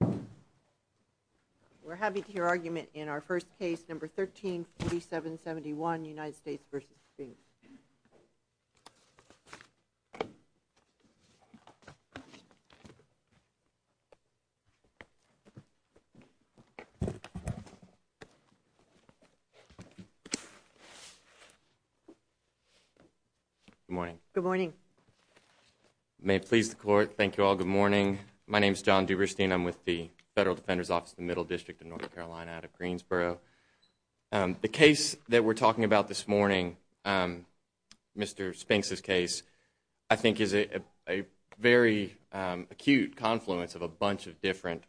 We're happy to hear argument in our first case, No. 13-4771, United States v. Spinks. Good morning. Good morning. May it please the Court, thank you all, good morning. My name is John Duberstein. I'm with the Federal Defender's Office of the Middle District of North Carolina out of Greensboro. The case that we're talking about this morning, Mr. Spinks' case, I think is a very acute confluence of a bunch of different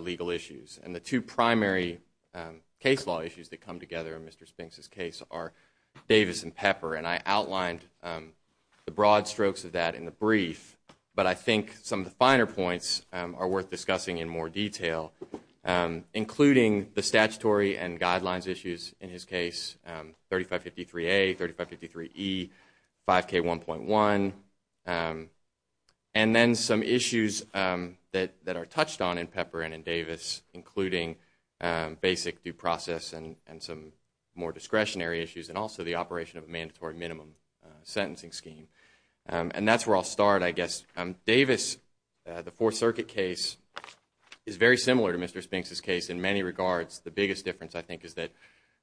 legal issues. And the two primary case law issues that come together in Mr. Spinks' case are Davis and Pepper. And I outlined the broad strokes of that in the brief, but I think some of the finer points are worth discussing in more detail, including the statutory and guidelines issues in his case, 3553A, 3553E, 5K1.1, and then some issues that are touched on in Pepper and in Davis, including basic due process and some more discretionary issues, and also the operation of a mandatory minimum sentencing scheme. And that's where I'll start, I guess. Davis, the Fourth Circuit case, is very similar to Mr. Spinks' case in many regards. The biggest difference, I think, is that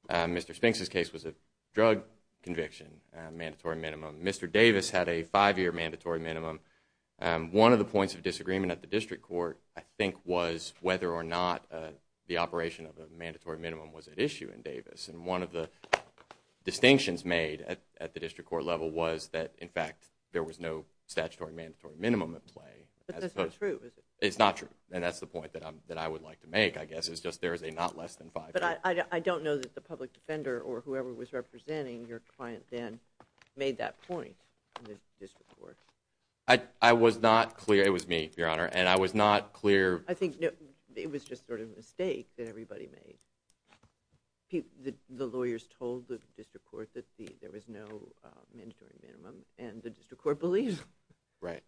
Mr. Spinks' case was a drug conviction, mandatory minimum. Mr. Davis had a five-year mandatory minimum. One of the points of disagreement at the District Court, I think, was whether or not the operation of a mandatory minimum was at issue in Davis. And one of the distinctions made at the District Court level was that, in fact, there was no statutory mandatory minimum at play. But that's not true, is it? It's not true. And that's the point that I would like to make, I guess, is just there is a not less than five-year. But I don't know that the public defender or whoever was representing your client then made that point in the District Court. I was not clear. It was me, Your Honor. And I was not clear. I think it was just sort of a mistake that everybody made. The lawyers told the District Court that there was no mandatory minimum, and the District Court believed it. Right.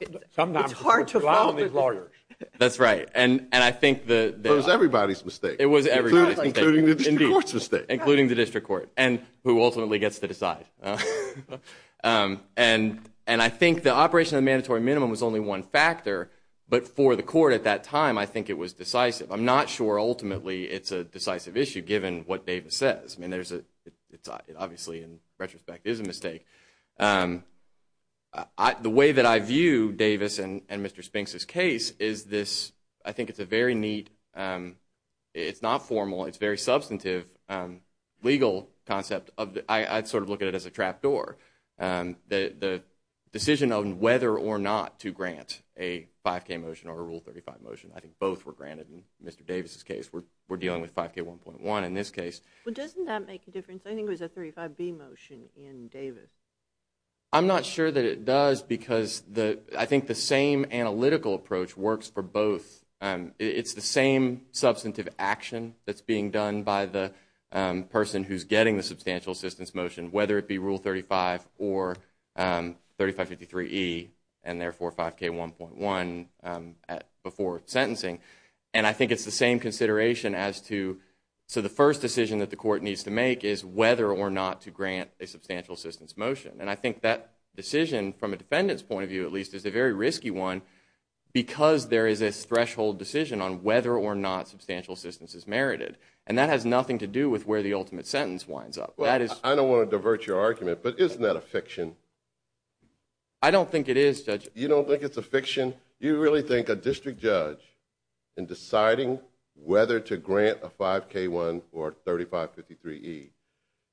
It's hard to follow these lawyers. That's right. And I think the- It was everybody's mistake. It was everybody's mistake. Including the District Court's mistake. Including the District Court, and who ultimately gets to decide. And I think the operation of the mandatory minimum was only one factor. But for the court at that time, I think it was decisive. I'm not sure ultimately it's a decisive issue, given what Davis says. I mean, obviously, in retrospect, it is a mistake. The way that I view Davis and Mr. Spinks' case is this- I think it's a very neat- it's not formal. It's a very substantive legal concept. I sort of look at it as a trap door. The decision on whether or not to grant a 5K motion or a Rule 35 motion, I think both were granted in Mr. Davis' case. We're dealing with 5K 1.1 in this case. Well, doesn't that make a difference? I think it was a 35B motion in Davis. I'm not sure that it does, because I think the same analytical approach works for both. It's the same substantive action that's being done by the person who's getting the substantial assistance motion, whether it be Rule 35 or 3553E, and therefore 5K 1.1 before sentencing. And I think it's the same consideration as to- so the first decision that the court needs to make is whether or not to grant a substantial assistance motion. And I think that decision, from a defendant's point of view at least, is a very risky one, because there is this threshold decision on whether or not substantial assistance is merited. And that has nothing to do with where the ultimate sentence winds up. That is- I don't want to divert your argument, but isn't that a fiction? I don't think it is, Judge. You don't think it's a fiction? You really think a district judge, in deciding whether to grant a 5K 1 or 3553E,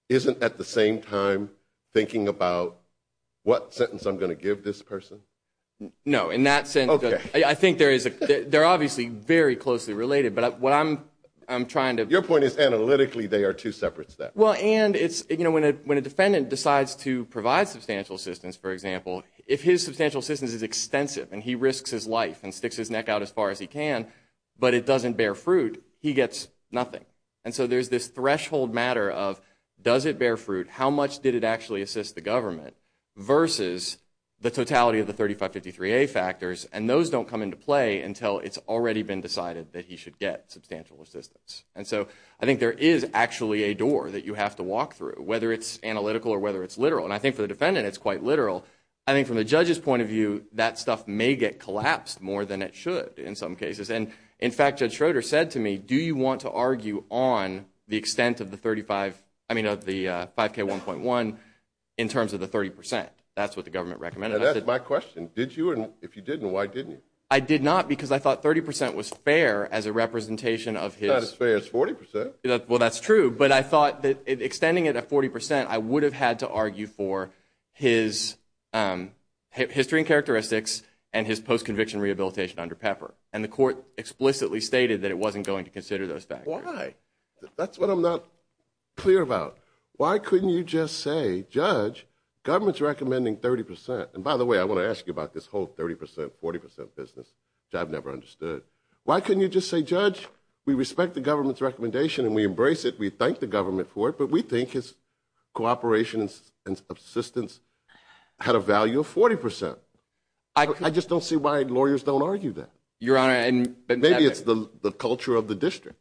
isn't at the same time thinking about what sentence I'm going to give this person? No, in that sense. Okay. I think there is a- they're obviously very closely related, but what I'm trying to- Your point is analytically they are two separate steps. Well, and it's- when a defendant decides to provide substantial assistance, for example, if his substantial assistance is extensive and he risks his life and sticks his neck out as far as he can, but it doesn't bear fruit, he gets nothing. And so there's this threshold matter of does it bear fruit, how much did it actually assist the government, versus the totality of the 3553A factors. And those don't come into play until it's already been decided that he should get substantial assistance. And so I think there is actually a door that you have to walk through, whether it's analytical or whether it's literal. And I think for the defendant it's quite literal. I think from the judge's point of view, that stuff may get collapsed more than it should in some cases. And, in fact, Judge Schroeder said to me, do you want to argue on the extent of the 35- I mean of the 5K 1.1 in terms of the 30 percent? That's what the government recommended. That's my question. Did you? And if you didn't, why didn't you? I did not because I thought 30 percent was fair as a representation of his- It's not as fair as 40 percent. Well, that's true. But I thought that extending it at 40 percent, I would have had to argue for his history and characteristics and his post-conviction rehabilitation under Pepper. And the court explicitly stated that it wasn't going to consider those factors. Why? That's what I'm not clear about. Why couldn't you just say, Judge, government's recommending 30 percent. And, by the way, I want to ask you about this whole 30 percent, 40 percent business, which I've never understood. Why couldn't you just say, Judge, we respect the government's recommendation and we embrace it, we thank the government for it, but we think his cooperation and assistance had a value of 40 percent? I just don't see why lawyers don't argue that. Your Honor, and- Maybe it's the culture of the district.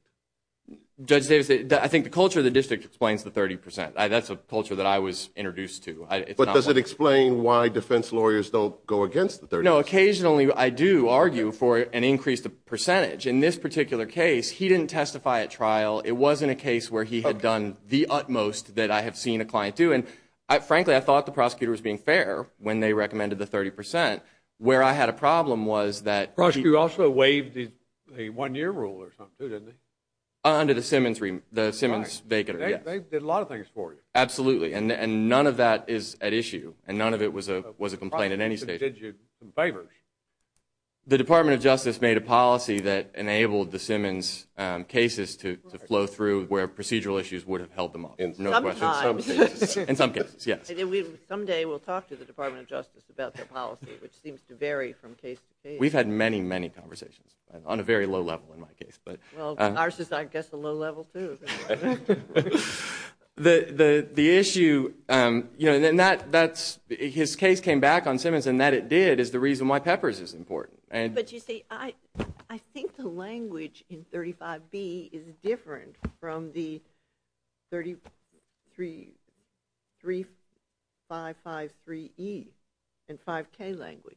Judge Davis, I think the culture of the district explains the 30 percent. That's a culture that I was introduced to. But does it explain why defense lawyers don't go against the 30 percent? No, occasionally I do argue for an increased percentage. In this particular case, he didn't testify at trial. It wasn't a case where he had done the utmost that I have seen a client do. And, frankly, I thought the prosecutor was being fair when they recommended the 30 percent. Where I had a problem was that- The prosecutor also waived a one-year rule or something, too, didn't he? Under the Simmons- Right. The Simmons- They did a lot of things for you. Absolutely. And none of that is at issue. And none of it was a complaint in any state. They probably did you some favors. The Department of Justice made a policy that enabled the Simmons cases to flow through where procedural issues would have held them up. No question. Sometimes. In some cases, yes. Someday we'll talk to the Department of Justice about their policy, which seems to vary from case to case. We've had many, many conversations on a very low level in my case. Well, ours is, I guess, a low level, too. The issue- His case came back on Simmons, and that it did is the reason why Peppers is important. But, you see, I think the language in 35B is different from the 3553E and 5K language.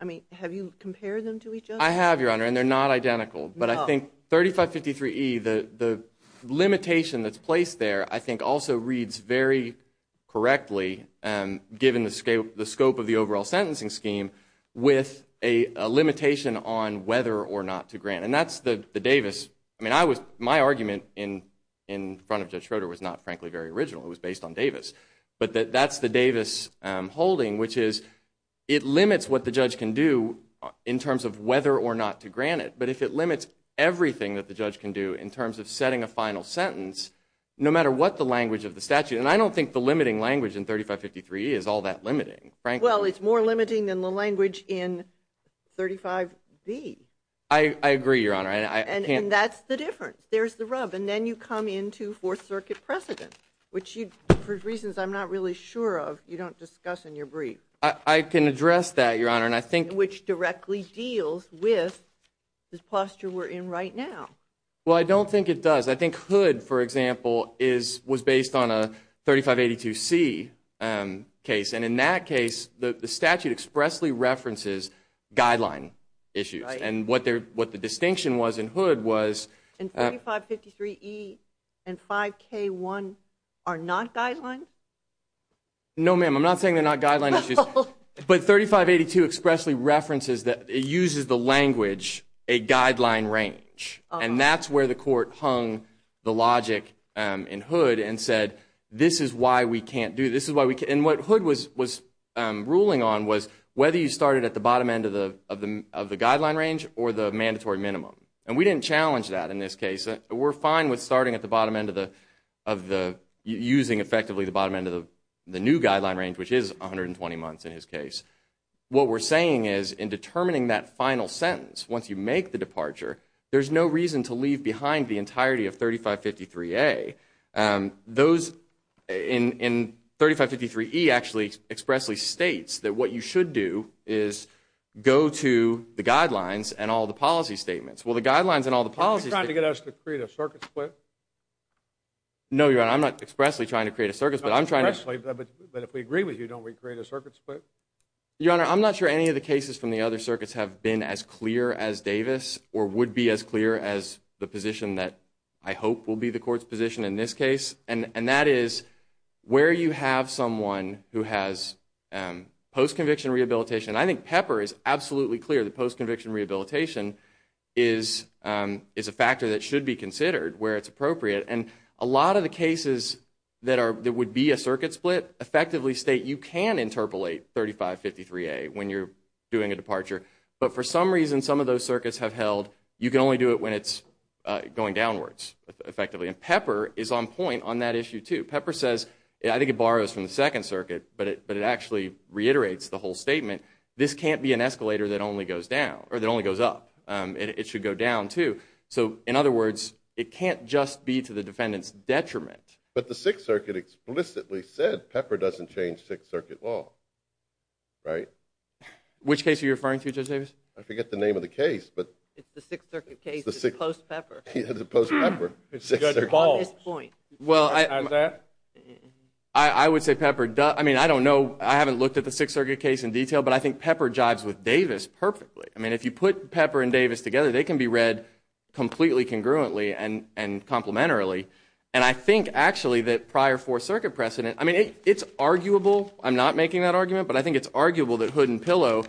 I mean, have you compared them to each other? I have, Your Honor, and they're not identical. No. I think 3553E, the limitation that's placed there, I think also reads very correctly, given the scope of the overall sentencing scheme, with a limitation on whether or not to grant. And that's the Davis-I mean, my argument in front of Judge Schroeder was not, frankly, very original. It was based on Davis. But that's the Davis holding, which is it limits what the judge can do in terms of whether or not to grant it. But if it limits everything that the judge can do in terms of setting a final sentence, no matter what the language of the statute- and I don't think the limiting language in 3553E is all that limiting, frankly. Well, it's more limiting than the language in 35B. I agree, Your Honor. And that's the difference. There's the rub. And then you come into Fourth Circuit precedent, which, for reasons I'm not really sure of, you don't discuss in your brief. I can address that, Your Honor, and I think- Well, I don't think it does. I think Hood, for example, was based on a 3582C case. And in that case, the statute expressly references guideline issues. And what the distinction was in Hood was- And 3553E and 5K1 are not guidelines? No, ma'am, I'm not saying they're not guideline issues. But 3582 expressly references that it uses the language, a guideline range. And that's where the court hung the logic in Hood and said, this is why we can't do this. And what Hood was ruling on was whether you started at the bottom end of the guideline range or the mandatory minimum. And we didn't challenge that in this case. We're fine with starting at the bottom end of the- What we're saying is, in determining that final sentence, once you make the departure, there's no reason to leave behind the entirety of 3553A. Those in 3553E actually expressly states that what you should do is go to the guidelines and all the policy statements. Well, the guidelines and all the policies- Are you trying to get us to create a circuit split? No, Your Honor, I'm not expressly trying to create a circuit split. But if we agree with you, don't we create a circuit split? Your Honor, I'm not sure any of the cases from the other circuits have been as clear as Davis or would be as clear as the position that I hope will be the court's position in this case. And that is, where you have someone who has post-conviction rehabilitation, and I think Pepper is absolutely clear that post-conviction rehabilitation is a factor that should be considered where it's appropriate. And a lot of the cases that would be a circuit split effectively state you can interpolate 3553A when you're doing a departure, but for some reason, some of those circuits have held, you can only do it when it's going downwards, effectively. And Pepper is on point on that issue, too. Pepper says, I think it borrows from the Second Circuit, but it actually reiterates the whole statement, this can't be an escalator that only goes up. It should go down, too. So, in other words, it can't just be to the defendant's detriment. But the Sixth Circuit explicitly said Pepper doesn't change Sixth Circuit law, right? Which case are you referring to, Judge Davis? I forget the name of the case, but... It's the Sixth Circuit case, it's post-Pepper. It's post-Pepper. Judge Ball, at this point... I would say Pepper does, I mean, I don't know, I haven't looked at the Sixth Circuit case in detail, but I think Pepper jives with Davis perfectly. I mean, if you put Pepper and Davis together, they can be read completely congruently and complementarily. And I think, actually, that prior Fourth Circuit precedent, I mean, it's arguable, I'm not making that argument, but I think it's arguable that hood and pillow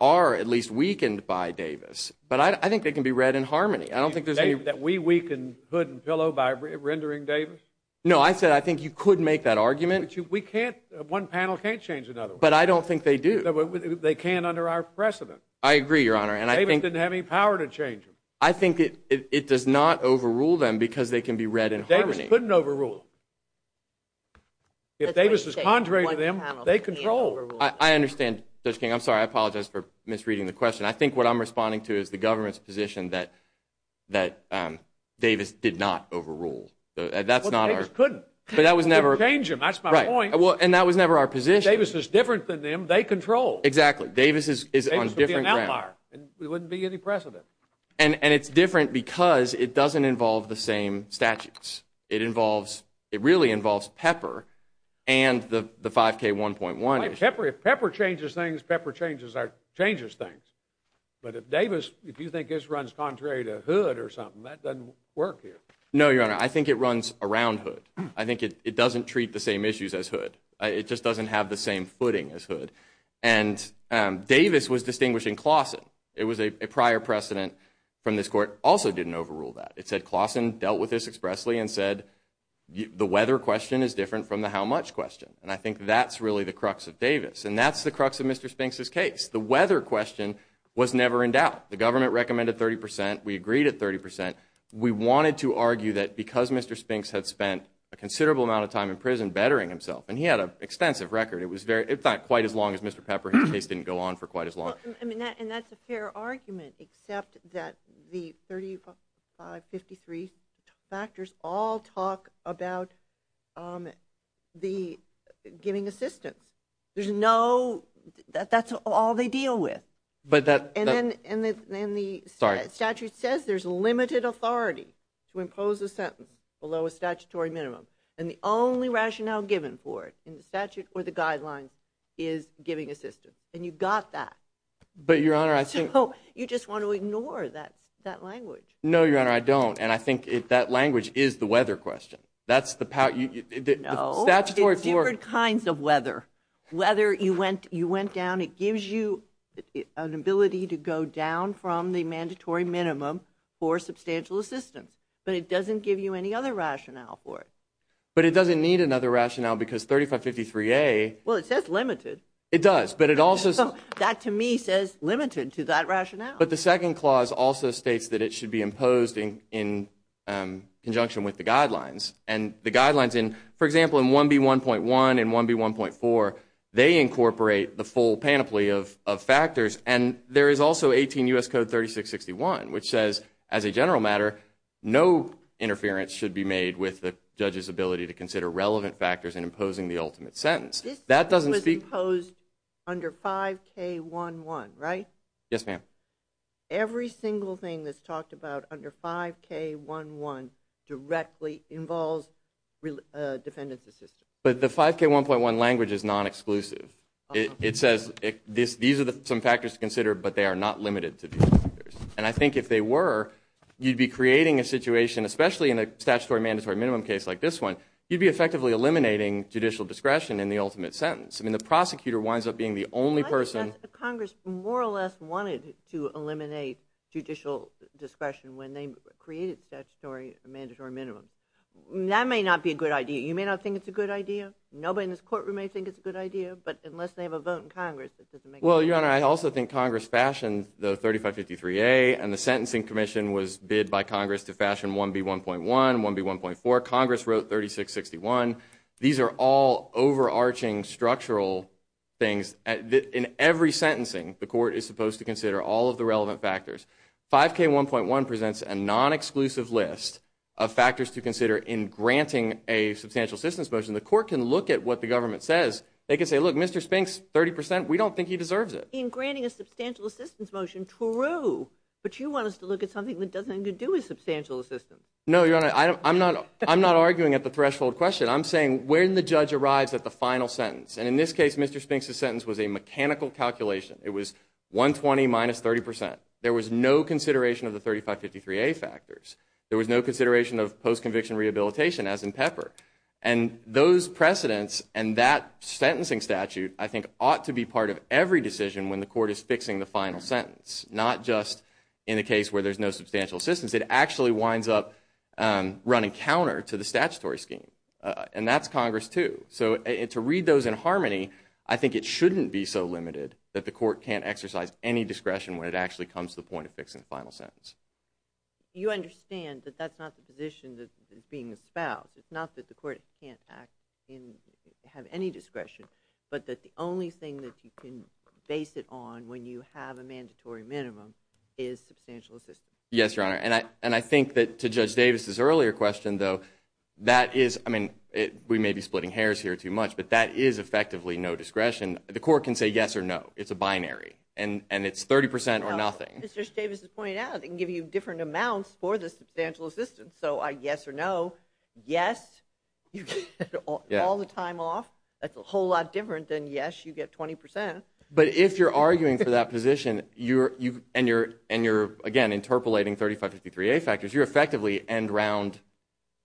are at least weakened by Davis. But I think they can be read in harmony. I don't think there's any... That we weaken hood and pillow by rendering Davis? No, I said I think you could make that argument. But we can't, one panel can't change another one. But I don't think they do. They can under our precedent. I agree, Your Honor, and I think... Davis didn't have any power to change them. I think it does not overrule them because they can be read in harmony. Davis couldn't overrule them. If Davis is contrary to them, they control. I understand, Judge King. I'm sorry, I apologize for misreading the question. I think what I'm responding to is the government's position that Davis did not overrule. That's not our... But Davis couldn't. But that was never... We can't change them, that's my point. Right, and that was never our position. Davis is different than them, they control. Exactly. Davis is on a different ground. Davis would be an outlier and we wouldn't be any precedent. And it's different because it doesn't involve the same statutes. It involves, it really involves Pepper and the 5K1.1. Pepper, if Pepper changes things, Pepper changes things. But if Davis, if you think this runs contrary to hood or something, that doesn't work here. No, Your Honor, I think it runs around hood. I think it doesn't treat the same issues as hood. It just doesn't have the same footing as hood. And Davis was distinguishing Clausen. It was a prior precedent from this Court. Also didn't overrule that. It said Clausen dealt with this expressly and said the weather question is different from the how much question. And I think that's really the crux of Davis. And that's the crux of Mr. Spinks' case. The weather question was never in doubt. The government recommended 30 percent. We agreed at 30 percent. We wanted to argue that because Mr. Spinks had spent a considerable amount of time in prison bettering himself, and he had an extensive record. It was not quite as long as Mr. Pepper. His case didn't go on for quite as long. And that's a fair argument, except that the 3553 factors all talk about the giving assistance. That's all they deal with. And then the statute says there's limited authority to impose a sentence below a statutory minimum. And the only rationale given for it in the statute or the guidelines is giving assistance. And you got that. But, Your Honor, I think – So you just want to ignore that language. No, Your Honor, I don't. And I think that language is the weather question. That's the – No. It's different kinds of weather. Whether you went down, it gives you an ability to go down from the mandatory minimum for substantial assistance. But it doesn't give you any other rationale for it. But it doesn't need another rationale because 3553A – Well, it says limited. It does. But it also – That, to me, says limited to that rationale. But the second clause also states that it should be imposed in conjunction with the guidelines. And the guidelines, for example, in 1B1.1 and 1B1.4, they incorporate the full panoply of factors. And there is also 18 U.S. Code 3661, which says, as a general matter, no interference should be made with the judge's ability to consider relevant factors in imposing the ultimate sentence. That doesn't speak – This was imposed under 5K11, right? Yes, ma'am. Every single thing that's talked about under 5K11 directly involves defendants' assistance. But the 5K1.1 language is non-exclusive. It says these are some factors to consider, but they are not limited to these factors. And I think if they were, you'd be creating a situation, especially in a statutory-mandatory-minimum case like this one, you'd be effectively eliminating judicial discretion in the ultimate sentence. I mean, the prosecutor winds up being the only person – Congress more or less wanted to eliminate judicial discretion when they created statutory-mandatory-minimum. That may not be a good idea. You may not think it's a good idea. Nobody in this courtroom may think it's a good idea. But unless they have a vote in Congress, this doesn't make sense. Well, Your Honor, I also think Congress fashioned the 3553A, and the Sentencing Commission was bid by Congress to fashion 1B1.1, 1B1.4. Congress wrote 3661. These are all overarching structural things. In every sentencing, the court is supposed to consider all of the relevant factors. 5K1.1 presents a non-exclusive list of factors to consider in granting a substantial assistance motion. The court can look at what the government says. They can say, look, Mr. Spinks, 30 percent, we don't think he deserves it. In granting a substantial assistance motion, true, but you want us to look at something that doesn't have anything to do with substantial assistance. No, Your Honor, I'm not arguing at the threshold question. I'm saying when the judge arrives at the final sentence. And in this case, Mr. Spinks' sentence was a mechanical calculation. It was 120 minus 30 percent. There was no consideration of the 3553A factors. There was no consideration of post-conviction rehabilitation, as in Pepper. And those precedents and that sentencing statute, I think, ought to be part of every decision when the court is fixing the final sentence, not just in the case where there's no substantial assistance. It actually winds up running counter to the statutory scheme, and that's Congress, too. So to read those in harmony, I think it shouldn't be so limited that the court can't exercise any discretion when it actually comes to the point of fixing the final sentence. You understand that that's not the position that's being espoused. It's not that the court can't have any discretion, but that the only thing that you can base it on when you have a mandatory minimum is substantial assistance. Yes, Your Honor, and I think that to Judge Davis' earlier question, though, that is, I mean, we may be splitting hairs here too much, but that is effectively no discretion. The court can say yes or no. It's a binary, and it's 30 percent or nothing. No, as Judge Davis has pointed out, it can give you different amounts for the substantial assistance. So yes or no, yes, you get all the time off. That's a whole lot different than yes, you get 20 percent. But if you're arguing for that position and you're, again, interpolating 3553A factors, you're effectively end round.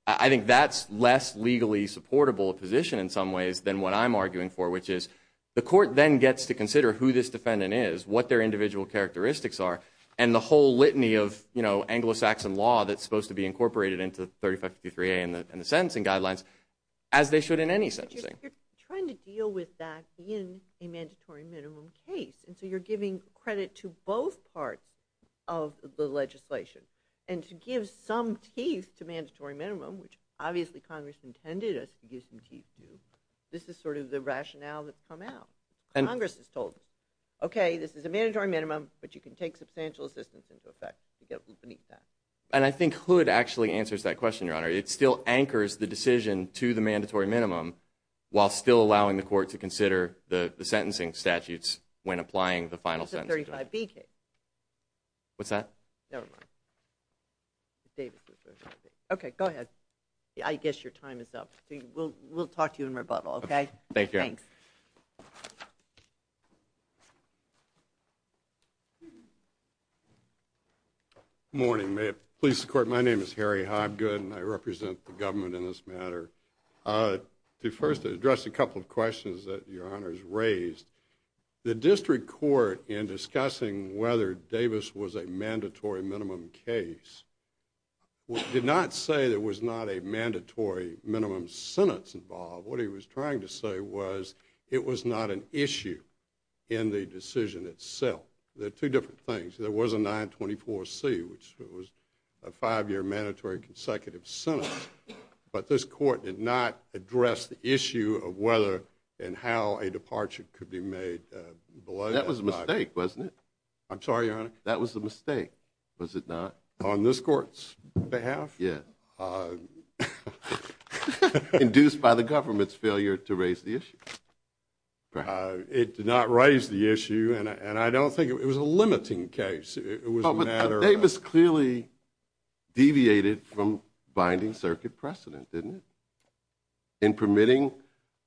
I think that's less legally supportable a position in some ways than what I'm arguing for, which is the court then gets to consider who this defendant is, what their individual characteristics are, and the whole litany of Anglo-Saxon law that's supposed to be incorporated into 3553A and the sentencing guidelines, as they should in any sentencing. But you're trying to deal with that in a mandatory minimum case, and so you're giving credit to both parts of the legislation. And to give some teeth to mandatory minimum, which obviously Congress intended us to give some teeth to, this is sort of the rationale that's come out. Congress has told us, okay, this is a mandatory minimum, but you can take substantial assistance into effect to get beneath that. And I think Hood actually answers that question, Your Honor. It still anchors the decision to the mandatory minimum, while still allowing the court to consider the sentencing statutes when applying the final sentence. It's a 35B case. What's that? Never mind. Okay, go ahead. I guess your time is up. We'll talk to you in rebuttal, okay? Thank you. Thanks. Good morning. May it please the Court, my name is Harry Hobgood, and I represent the government in this matter. To first address a couple of questions that Your Honor has raised. The district court, in discussing whether Davis was a mandatory minimum case, did not say there was not a mandatory minimum sentence involved. What he was trying to say was it was not an issue in the decision itself. They're two different things. There was a 924C, which was a five-year mandatory consecutive sentence, but this court did not address the issue of whether and how a departure could be made. That was a mistake, wasn't it? I'm sorry, Your Honor? That was a mistake, was it not? On this court's behalf? Yeah. Induced by the government's failure to raise the issue. It did not raise the issue, and I don't think it was a limiting case. It was a matter of – But Davis clearly deviated from binding circuit precedent, didn't it? In permitting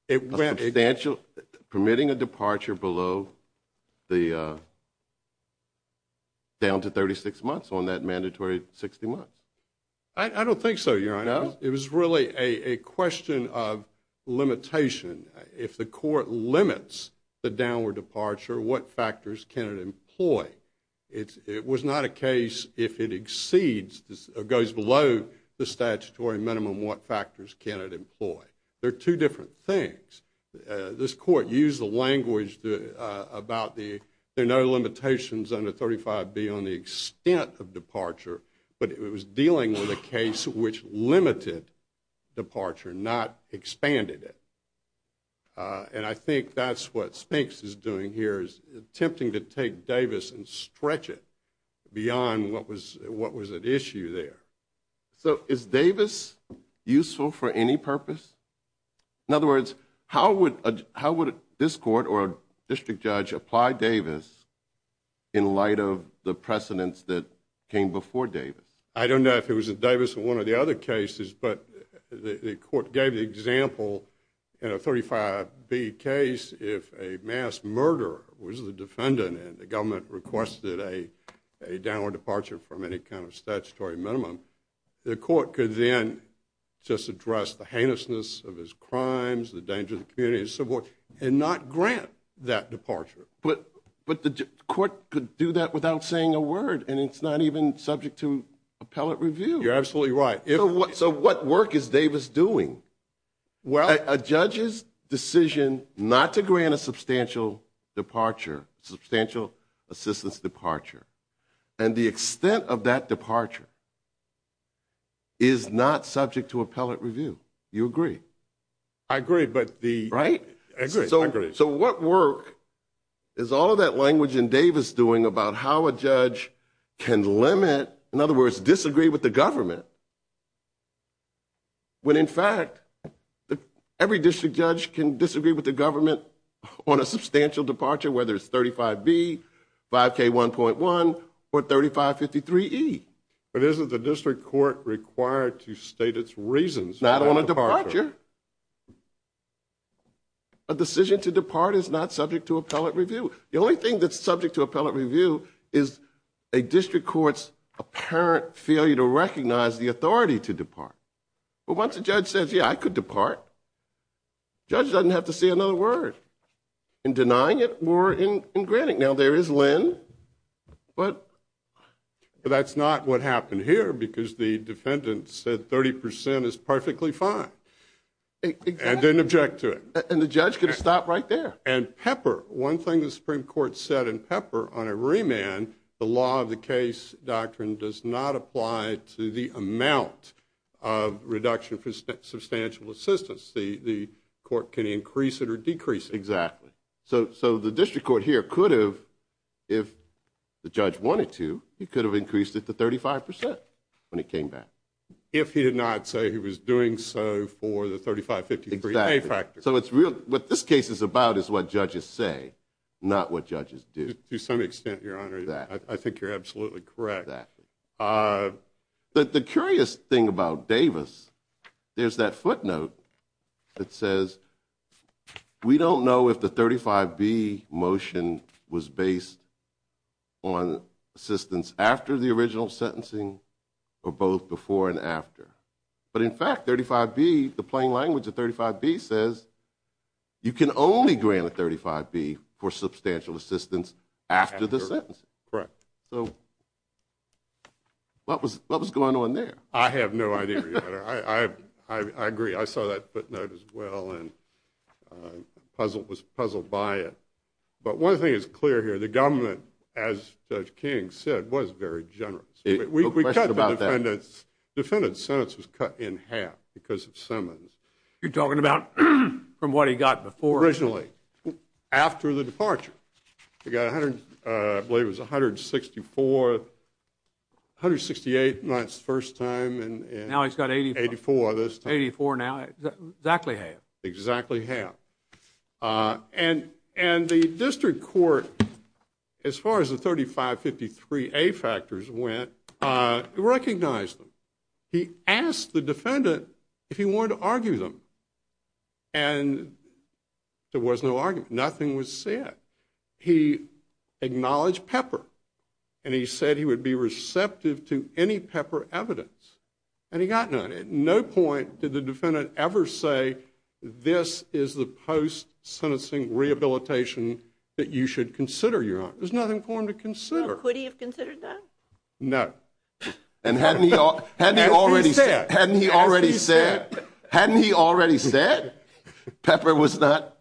a substantial – permitting a departure below the – down to 36 months on that mandatory 60 months. I don't think so, Your Honor. No? It was really a question of limitation. If the court limits the downward departure, what factors can it employ? It was not a case if it exceeds or goes below the statutory minimum, what factors can it employ? They're two different things. This court used the language about the – there are no limitations under 35B on the extent of departure, but it was dealing with a case which limited departure, not expanded it. And I think that's what Spinks is doing here, is attempting to take Davis and stretch it beyond what was at issue there. So is Davis useful for any purpose? In other words, how would this court or a district judge apply Davis in light of the precedents that came before Davis? I don't know if it was Davis in one of the other cases, but the court gave the example in a 35B case, if a mass murderer was the defendant and the government requested a downward departure from any kind of statutory minimum, the court could then just address the heinousness of his crimes, the danger to the community, and so forth, and not grant that departure. But the court could do that without saying a word, and it's not even subject to appellate review. You're absolutely right. So what work is Davis doing? A judge's decision not to grant a substantial departure, substantial assistance departure, and the extent of that departure is not subject to appellate review. Do you agree? I agree. Right? I agree. So what work is all of that language in Davis doing about how a judge can limit, in other words, disagree with the government, when in fact every district judge can disagree with the government on a substantial departure, whether it's 35B, 5K1.1, or 3553E? But isn't the district court required to state its reasons for that departure? Not on a departure. A decision to depart is not subject to appellate review. The only thing that's subject to appellate review is a district court's apparent failure to recognize the authority to depart. But once a judge says, yeah, I could depart, the judge doesn't have to say another word in denying it or in granting it. Now, there is LEND, but that's not what happened here because the defendant said 30% is perfectly fine. And didn't object to it. And the judge could have stopped right there. And PEPR. One thing the Supreme Court said in PEPR on a remand, the law of the case doctrine does not apply to the amount of reduction for substantial assistance. The court can increase it or decrease it. Exactly. So the district court here could have, if the judge wanted to, it could have increased it to 35% when it came back. If he did not say he was doing so for the 3553A factor. Exactly. So what this case is about is what judges say, not what judges do. To some extent, Your Honor, I think you're absolutely correct. The curious thing about Davis, there's that footnote that says, we don't know if the 35B motion was based on assistance after the original sentencing or both before and after. But in fact, 35B, the plain language of 35B says you can only grant a 35B for substantial assistance after the sentencing. Correct. So what was going on there? I have no idea, Your Honor. I agree. I saw that footnote as well and was puzzled by it. But one thing is clear here. The government, as Judge King said, was very generous. We cut the defendant's sentence in half because of Simmons. You're talking about from what he got before? Originally. After the departure. I believe it was 164, 168 the first time. Now he's got 84. 84 this time. 84 now. Exactly half. Exactly half. And the district court, as far as the 3553A factors went, recognized them. He asked the defendant if he wanted to argue them. And there was no argument. Nothing was said. He acknowledged Pepper. And he said he would be receptive to any Pepper evidence. And he got none. At no point did the defendant ever say this is the post-sentencing rehabilitation that you should consider, Your Honor. There's nothing for him to consider. Now, could he have considered that? No. And hadn't he already said? Hadn't he already said Pepper was not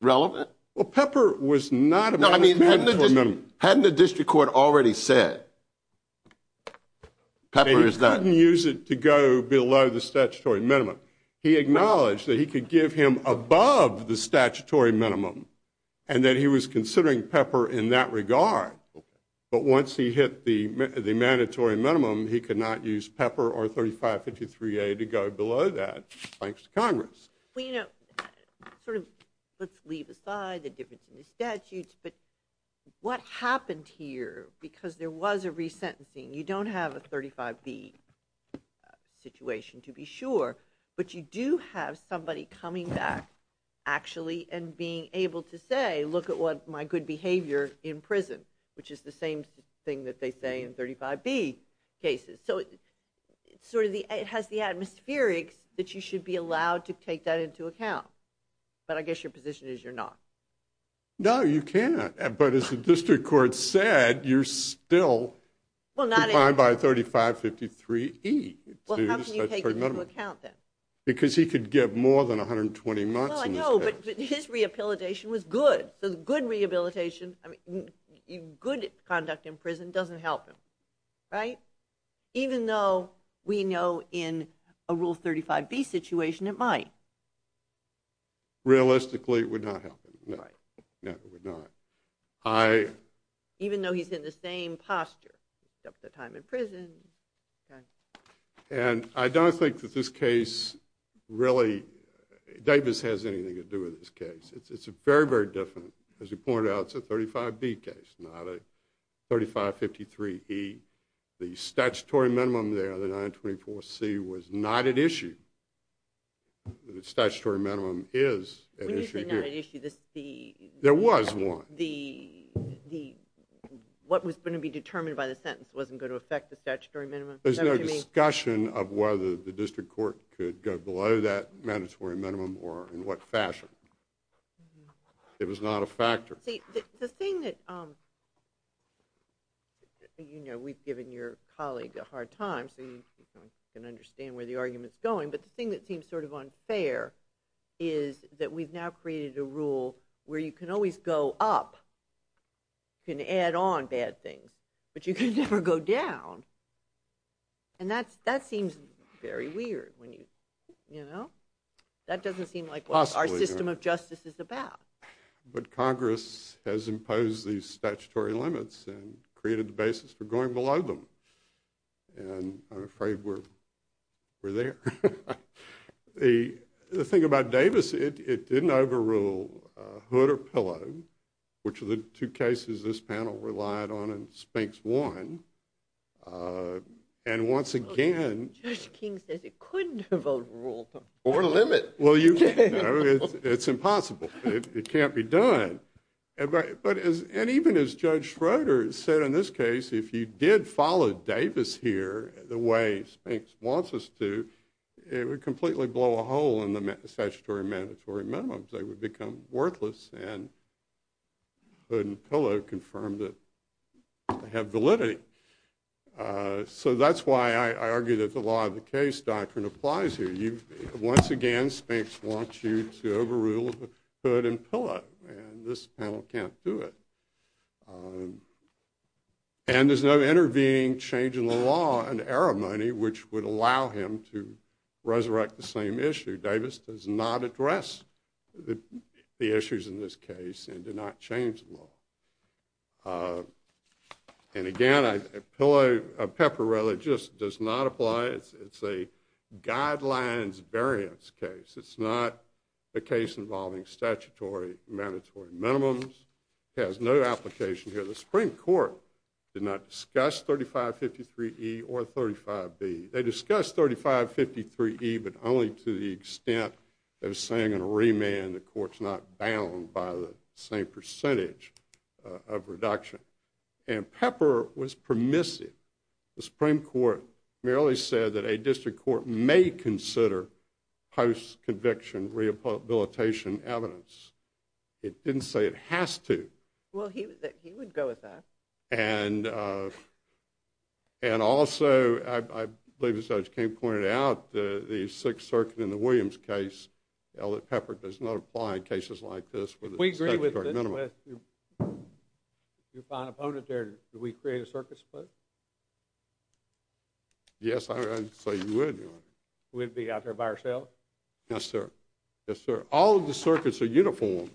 relevant? Well, Pepper was not a mandatory minimum. Hadn't the district court already said Pepper is not? He couldn't use it to go below the statutory minimum. He acknowledged that he could give him above the statutory minimum and that he was considering Pepper in that regard. But once he hit the mandatory minimum, he could not use Pepper or 3553A to go below that, thanks to Congress. Well, you know, sort of let's leave aside the difference in the statutes. But what happened here, because there was a resentencing, you don't have a 35B situation to be sure. But you do have somebody coming back actually and being able to say, look at what my good behavior in prison, which is the same thing that they say in 35B cases. So it sort of has the atmospherics that you should be allowed to take that into account. But I guess your position is you're not. No, you can't. But as the district court said, you're still defined by 3553E. Well, how can you take it into account then? Because he could give more than 120 months. Well, I know, but his rehabilitation was good. So good rehabilitation, good conduct in prison doesn't help him, right? Even though we know in a Rule 35B situation it might. Realistically, it would not help him. Right. No, it would not. Even though he's in the same posture, except for the time in prison. And I don't think that this case really, Davis has anything to do with this case. It's very, very different. As you pointed out, it's a 35B case, not a 3553E. The statutory minimum there, the 924C, was not at issue. The statutory minimum is at issue here. When do you say not at issue? There was one. What was going to be determined by the sentence wasn't going to affect the statutory minimum? There's no discussion of whether the district court could go below that mandatory minimum or in what fashion. It was not a factor. See, the thing that, you know, we've given your colleague a hard time, so you can understand where the argument's going. But the thing that seems sort of unfair is that we've now created a rule where you can always go up, you can add on bad things, but you can never go down. And that seems very weird, you know? That doesn't seem like what our system of justice is about. But Congress has imposed these statutory limits and created the basis for going below them. And I'm afraid we're there. The thing about Davis, it didn't overrule Hood or Pillow, which are the two cases this panel relied on and Spinks won. And once again ‑‑ Judge King says it couldn't have overruled them. Over the limit. Well, you know, it's impossible. It can't be done. And even as Judge Schroeder said in this case, if you did follow Davis here the way Spinks wants us to, it would completely blow a hole in the statutory and mandatory minimums. They would become worthless and Hood and Pillow confirmed that they have validity. So that's why I argue that the law of the case doctrine applies here. Once again, Spinks wants you to overrule Hood and Pillow, and this panel can't do it. And there's no intervening change in the law in the array of money which would allow him to resurrect the same issue. Davis does not address the issues in this case and did not change the law. And again, a pillow of pepper really just does not apply. It's a guidelines variance case. It's not a case involving statutory and mandatory minimums. It has no application here. The Supreme Court did not discuss 3553E or 35B. They discussed 3553E but only to the extent they were saying in a remand the Court's not bound by the same percentage of reduction. And pepper was permissive. The Supreme Court merely said that a district court may consider post-conviction rehabilitation evidence. It didn't say it has to. Well, he would go with that. And also, I believe as Judge King pointed out, the Sixth Circuit in the Williams case, the pepper does not apply in cases like this. We agree with this. If you find an opponent there, do we create a circuit split? Yes, I would say we would. We would be out there by ourselves? Yes, sir. Yes, sir. All of the circuits are uniform.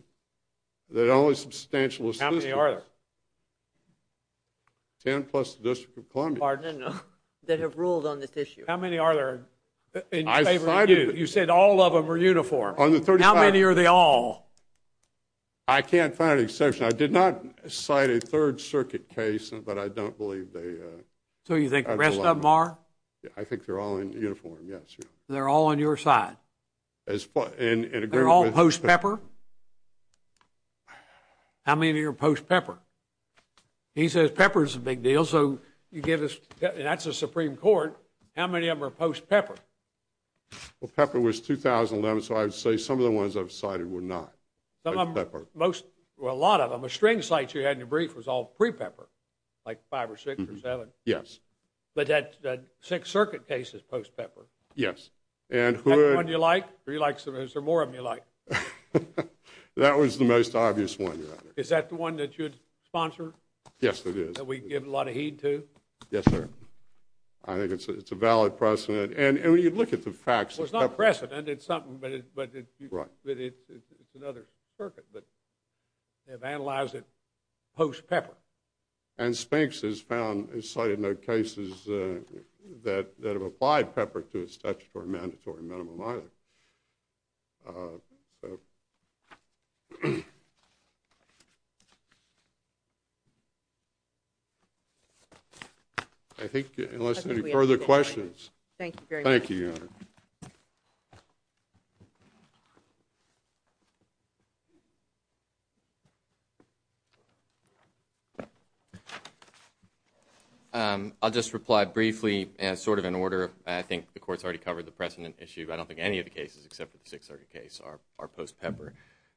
They're the only substantial assistance. How many are there? Ten plus the District of Columbia. Pardon? No. They have ruled on this issue. How many are there? You said all of them are uniform. On the 35th. How many are they all? I can't find an exception. I did not cite a Third Circuit case, but I don't believe they are. So you think the rest of them are? I think they're all in uniform, yes. They're all on your side? They're all post-pepper? How many of you are post-pepper? He says pepper is a big deal, so you give us the Supreme Court. How many of them are post-pepper? Well, pepper was 2011, so I would say some of the ones I've cited were not. Well, a lot of them. A string of cites you had in your brief was all pre-pepper, like five or six or seven. Yes. But that Sixth Circuit case is post-pepper. Yes. Is that the one you like, or is there more of them you like? That was the most obvious one, Your Honor. Is that the one that you'd sponsor? Yes, it is. That we give a lot of heed to? Yes, sir. I think it's a valid precedent. And when you look at the facts of pepper. It's a valid precedent. It's something, but it's another circuit. But they've analyzed it post-pepper. And Spinks has cited no cases that have applied pepper to its statutory mandatory minimum either. I think unless there are any further questions. Thank you very much. Thank you. I'll just reply briefly, sort of in order. I think the Court's already covered the precedent issue. I don't think any of the cases except for the Sixth Circuit case are post-pepper.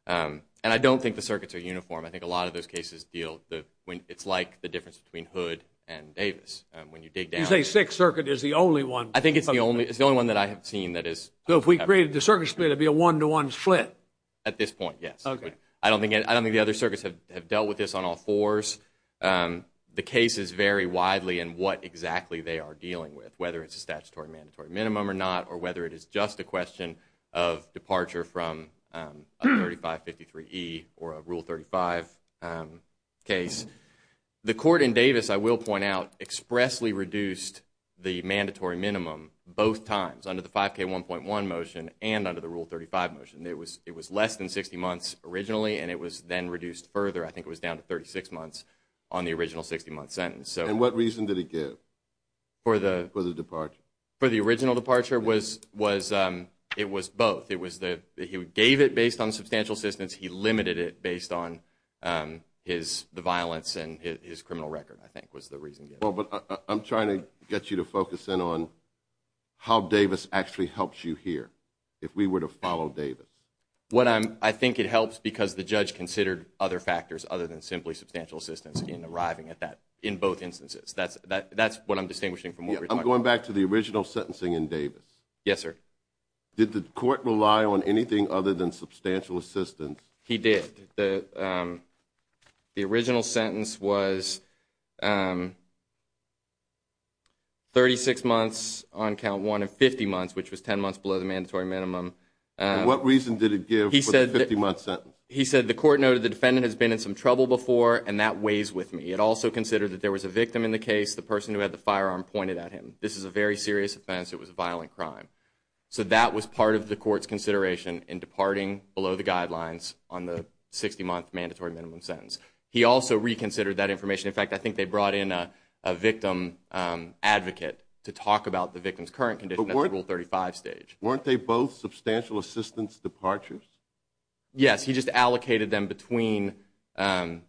And I don't think the circuits are uniform. I think a lot of those cases deal, it's like the difference between Hood and Davis. You say Sixth Circuit is the only one. I think it's the only one that I have seen that is. So if we created the circuit split, it would be a one-to-one split? At this point, yes. Okay. I don't think the other circuits have dealt with this on all fours. The cases vary widely in what exactly they are dealing with, whether it's a statutory mandatory minimum or not, or whether it is just a question of departure from 3553E or a Rule 35 case. The Court in Davis, I will point out, expressly reduced the mandatory minimum both times, under the 5K1.1 motion and under the Rule 35 motion. It was less than 60 months originally, and it was then reduced further. I think it was down to 36 months on the original 60-month sentence. And what reason did it give for the departure? For the original departure, it was both. It was that he gave it based on substantial assistance. He limited it based on the violence and his criminal record, I think, was the reason. But I'm trying to get you to focus in on how Davis actually helps you here, if we were to follow Davis. I think it helps because the judge considered other factors other than simply substantial assistance in arriving at that in both instances. That's what I'm distinguishing from what we're talking about. I'm going back to the original sentencing in Davis. Yes, sir. Did the court rely on anything other than substantial assistance? He did. The original sentence was 36 months on Count 1 and 50 months, which was 10 months below the mandatory minimum. And what reason did it give for the 50-month sentence? He said the court noted the defendant has been in some trouble before, and that weighs with me. It also considered that there was a victim in the case, the person who had the firearm pointed at him. This is a very serious offense. It was a violent crime. So that was part of the court's consideration in departing below the guidelines on the 60-month mandatory minimum sentence. He also reconsidered that information. In fact, I think they brought in a victim advocate to talk about the victim's current condition at Rule 35 stage. Weren't they both substantial assistance departures? Yes. He just allocated them between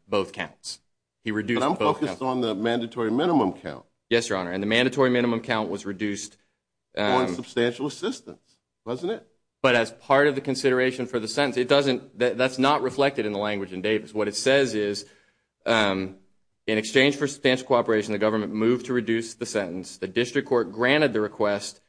both counts. He reduced both counts. But I'm focused on the mandatory minimum count. Yes, Your Honor. And the mandatory minimum count was reduced. On substantial assistance, wasn't it? But as part of the consideration for the sentence, that's not reflected in the language in Davis. What it says is, in exchange for substantial cooperation, the government moved to reduce the sentence. The district court granted the request,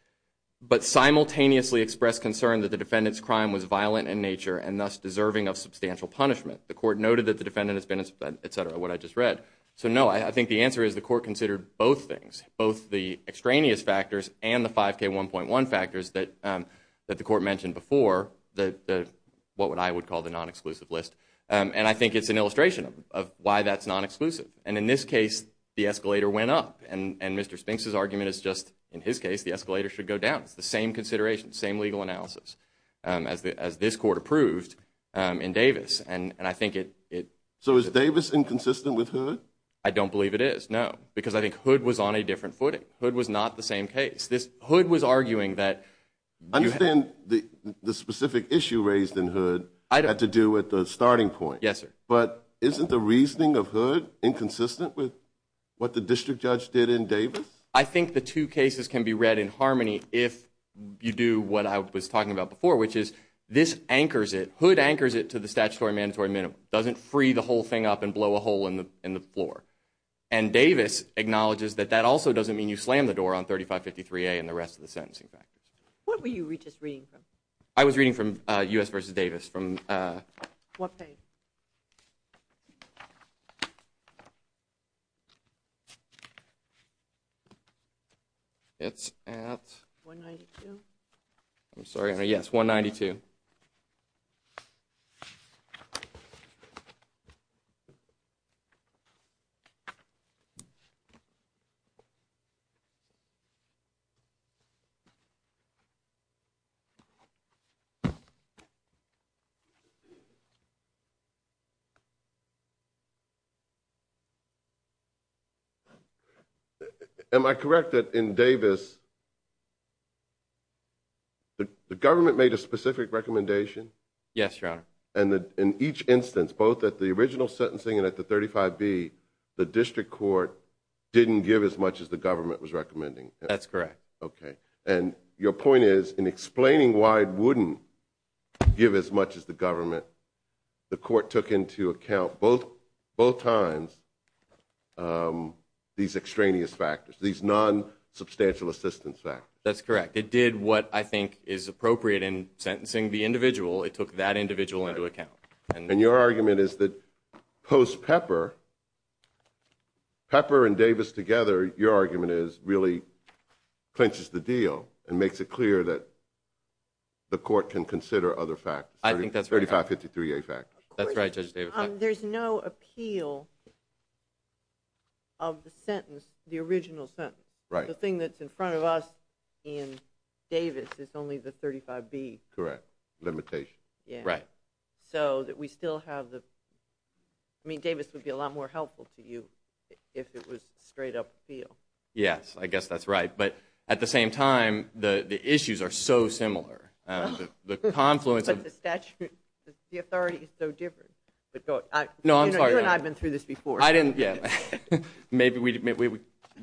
but simultaneously expressed concern that the defendant's crime was violent in nature and thus deserving of substantial punishment. The court noted that the defendant has been, et cetera, what I just read. So no, I think the answer is the court considered both things, both the extraneous factors and the 5K1.1 factors that the court mentioned before, what I would call the non-exclusive list. And I think it's an illustration of why that's non-exclusive. And in this case, the escalator went up. And Mr. Spinks' argument is just, in his case, the escalator should go down. It's the same consideration, same legal analysis as this court approved in Davis. So is Davis inconsistent with Hood? I don't believe it is, no. Because I think Hood was on a different footing. Hood was not the same case. Hood was arguing that you had to do with the starting point. Yes, sir. But isn't the reasoning of Hood inconsistent with what the district judge did in Davis? I think the two cases can be read in harmony if you do what I was talking about before, which is this anchors it, Hood anchors it to the statutory mandatory minimum. It doesn't free the whole thing up and blow a hole in the floor. And Davis acknowledges that that also doesn't mean you slam the door on 3553A and the rest of the sentencing package. What were you just reading from? I was reading from U.S. v. Davis. What page? It's at? 192? I'm sorry. Yes, 192. Okay. Am I correct that in Davis the government made a specific recommendation? Yes, Your Honor. And in each instance, both at the original sentencing and at the 35B, the district court didn't give as much as the government was recommending? That's correct. Okay. And your point is in explaining why it wouldn't give as much as the government, the court took into account both times these extraneous factors, these non-substantial assistance factors. That's correct. It did what I think is appropriate in sentencing the individual. It took that individual into account. And your argument is that post Pepper, Pepper and Davis together, your argument is really clinches the deal and makes it clear that the court can consider other factors. I think that's right. 3553A factors. That's right, Judge Davis. There's no appeal of the sentence, the original sentence, the thing that's in front of us in Davis is only the 35B. Correct. Limitation. Right. So that we still have the – I mean, Davis would be a lot more helpful to you if it was straight up appeal. Yes, I guess that's right. But at the same time, the issues are so similar. The confluence of – But the statute, the authority is so different. No, I'm sorry. You and I have been through this before. Maybe we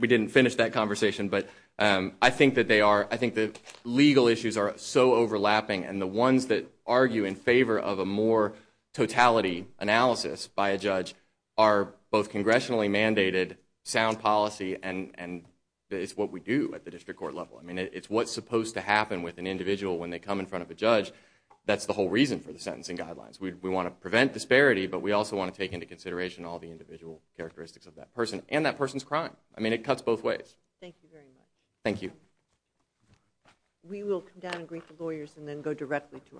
didn't finish that conversation. But I think that legal issues are so overlapping, and the ones that argue in favor of a more totality analysis by a judge are both congressionally mandated, sound policy, and it's what we do at the district court level. I mean, it's what's supposed to happen with an individual when they come in front of a judge. That's the whole reason for the sentencing guidelines. We want to prevent disparity, but we also want to take into consideration all the individual characteristics of that person and that person's crime. I mean, it cuts both ways. Thank you very much. Thank you. We will come down and greet the lawyers and then go directly to our next case.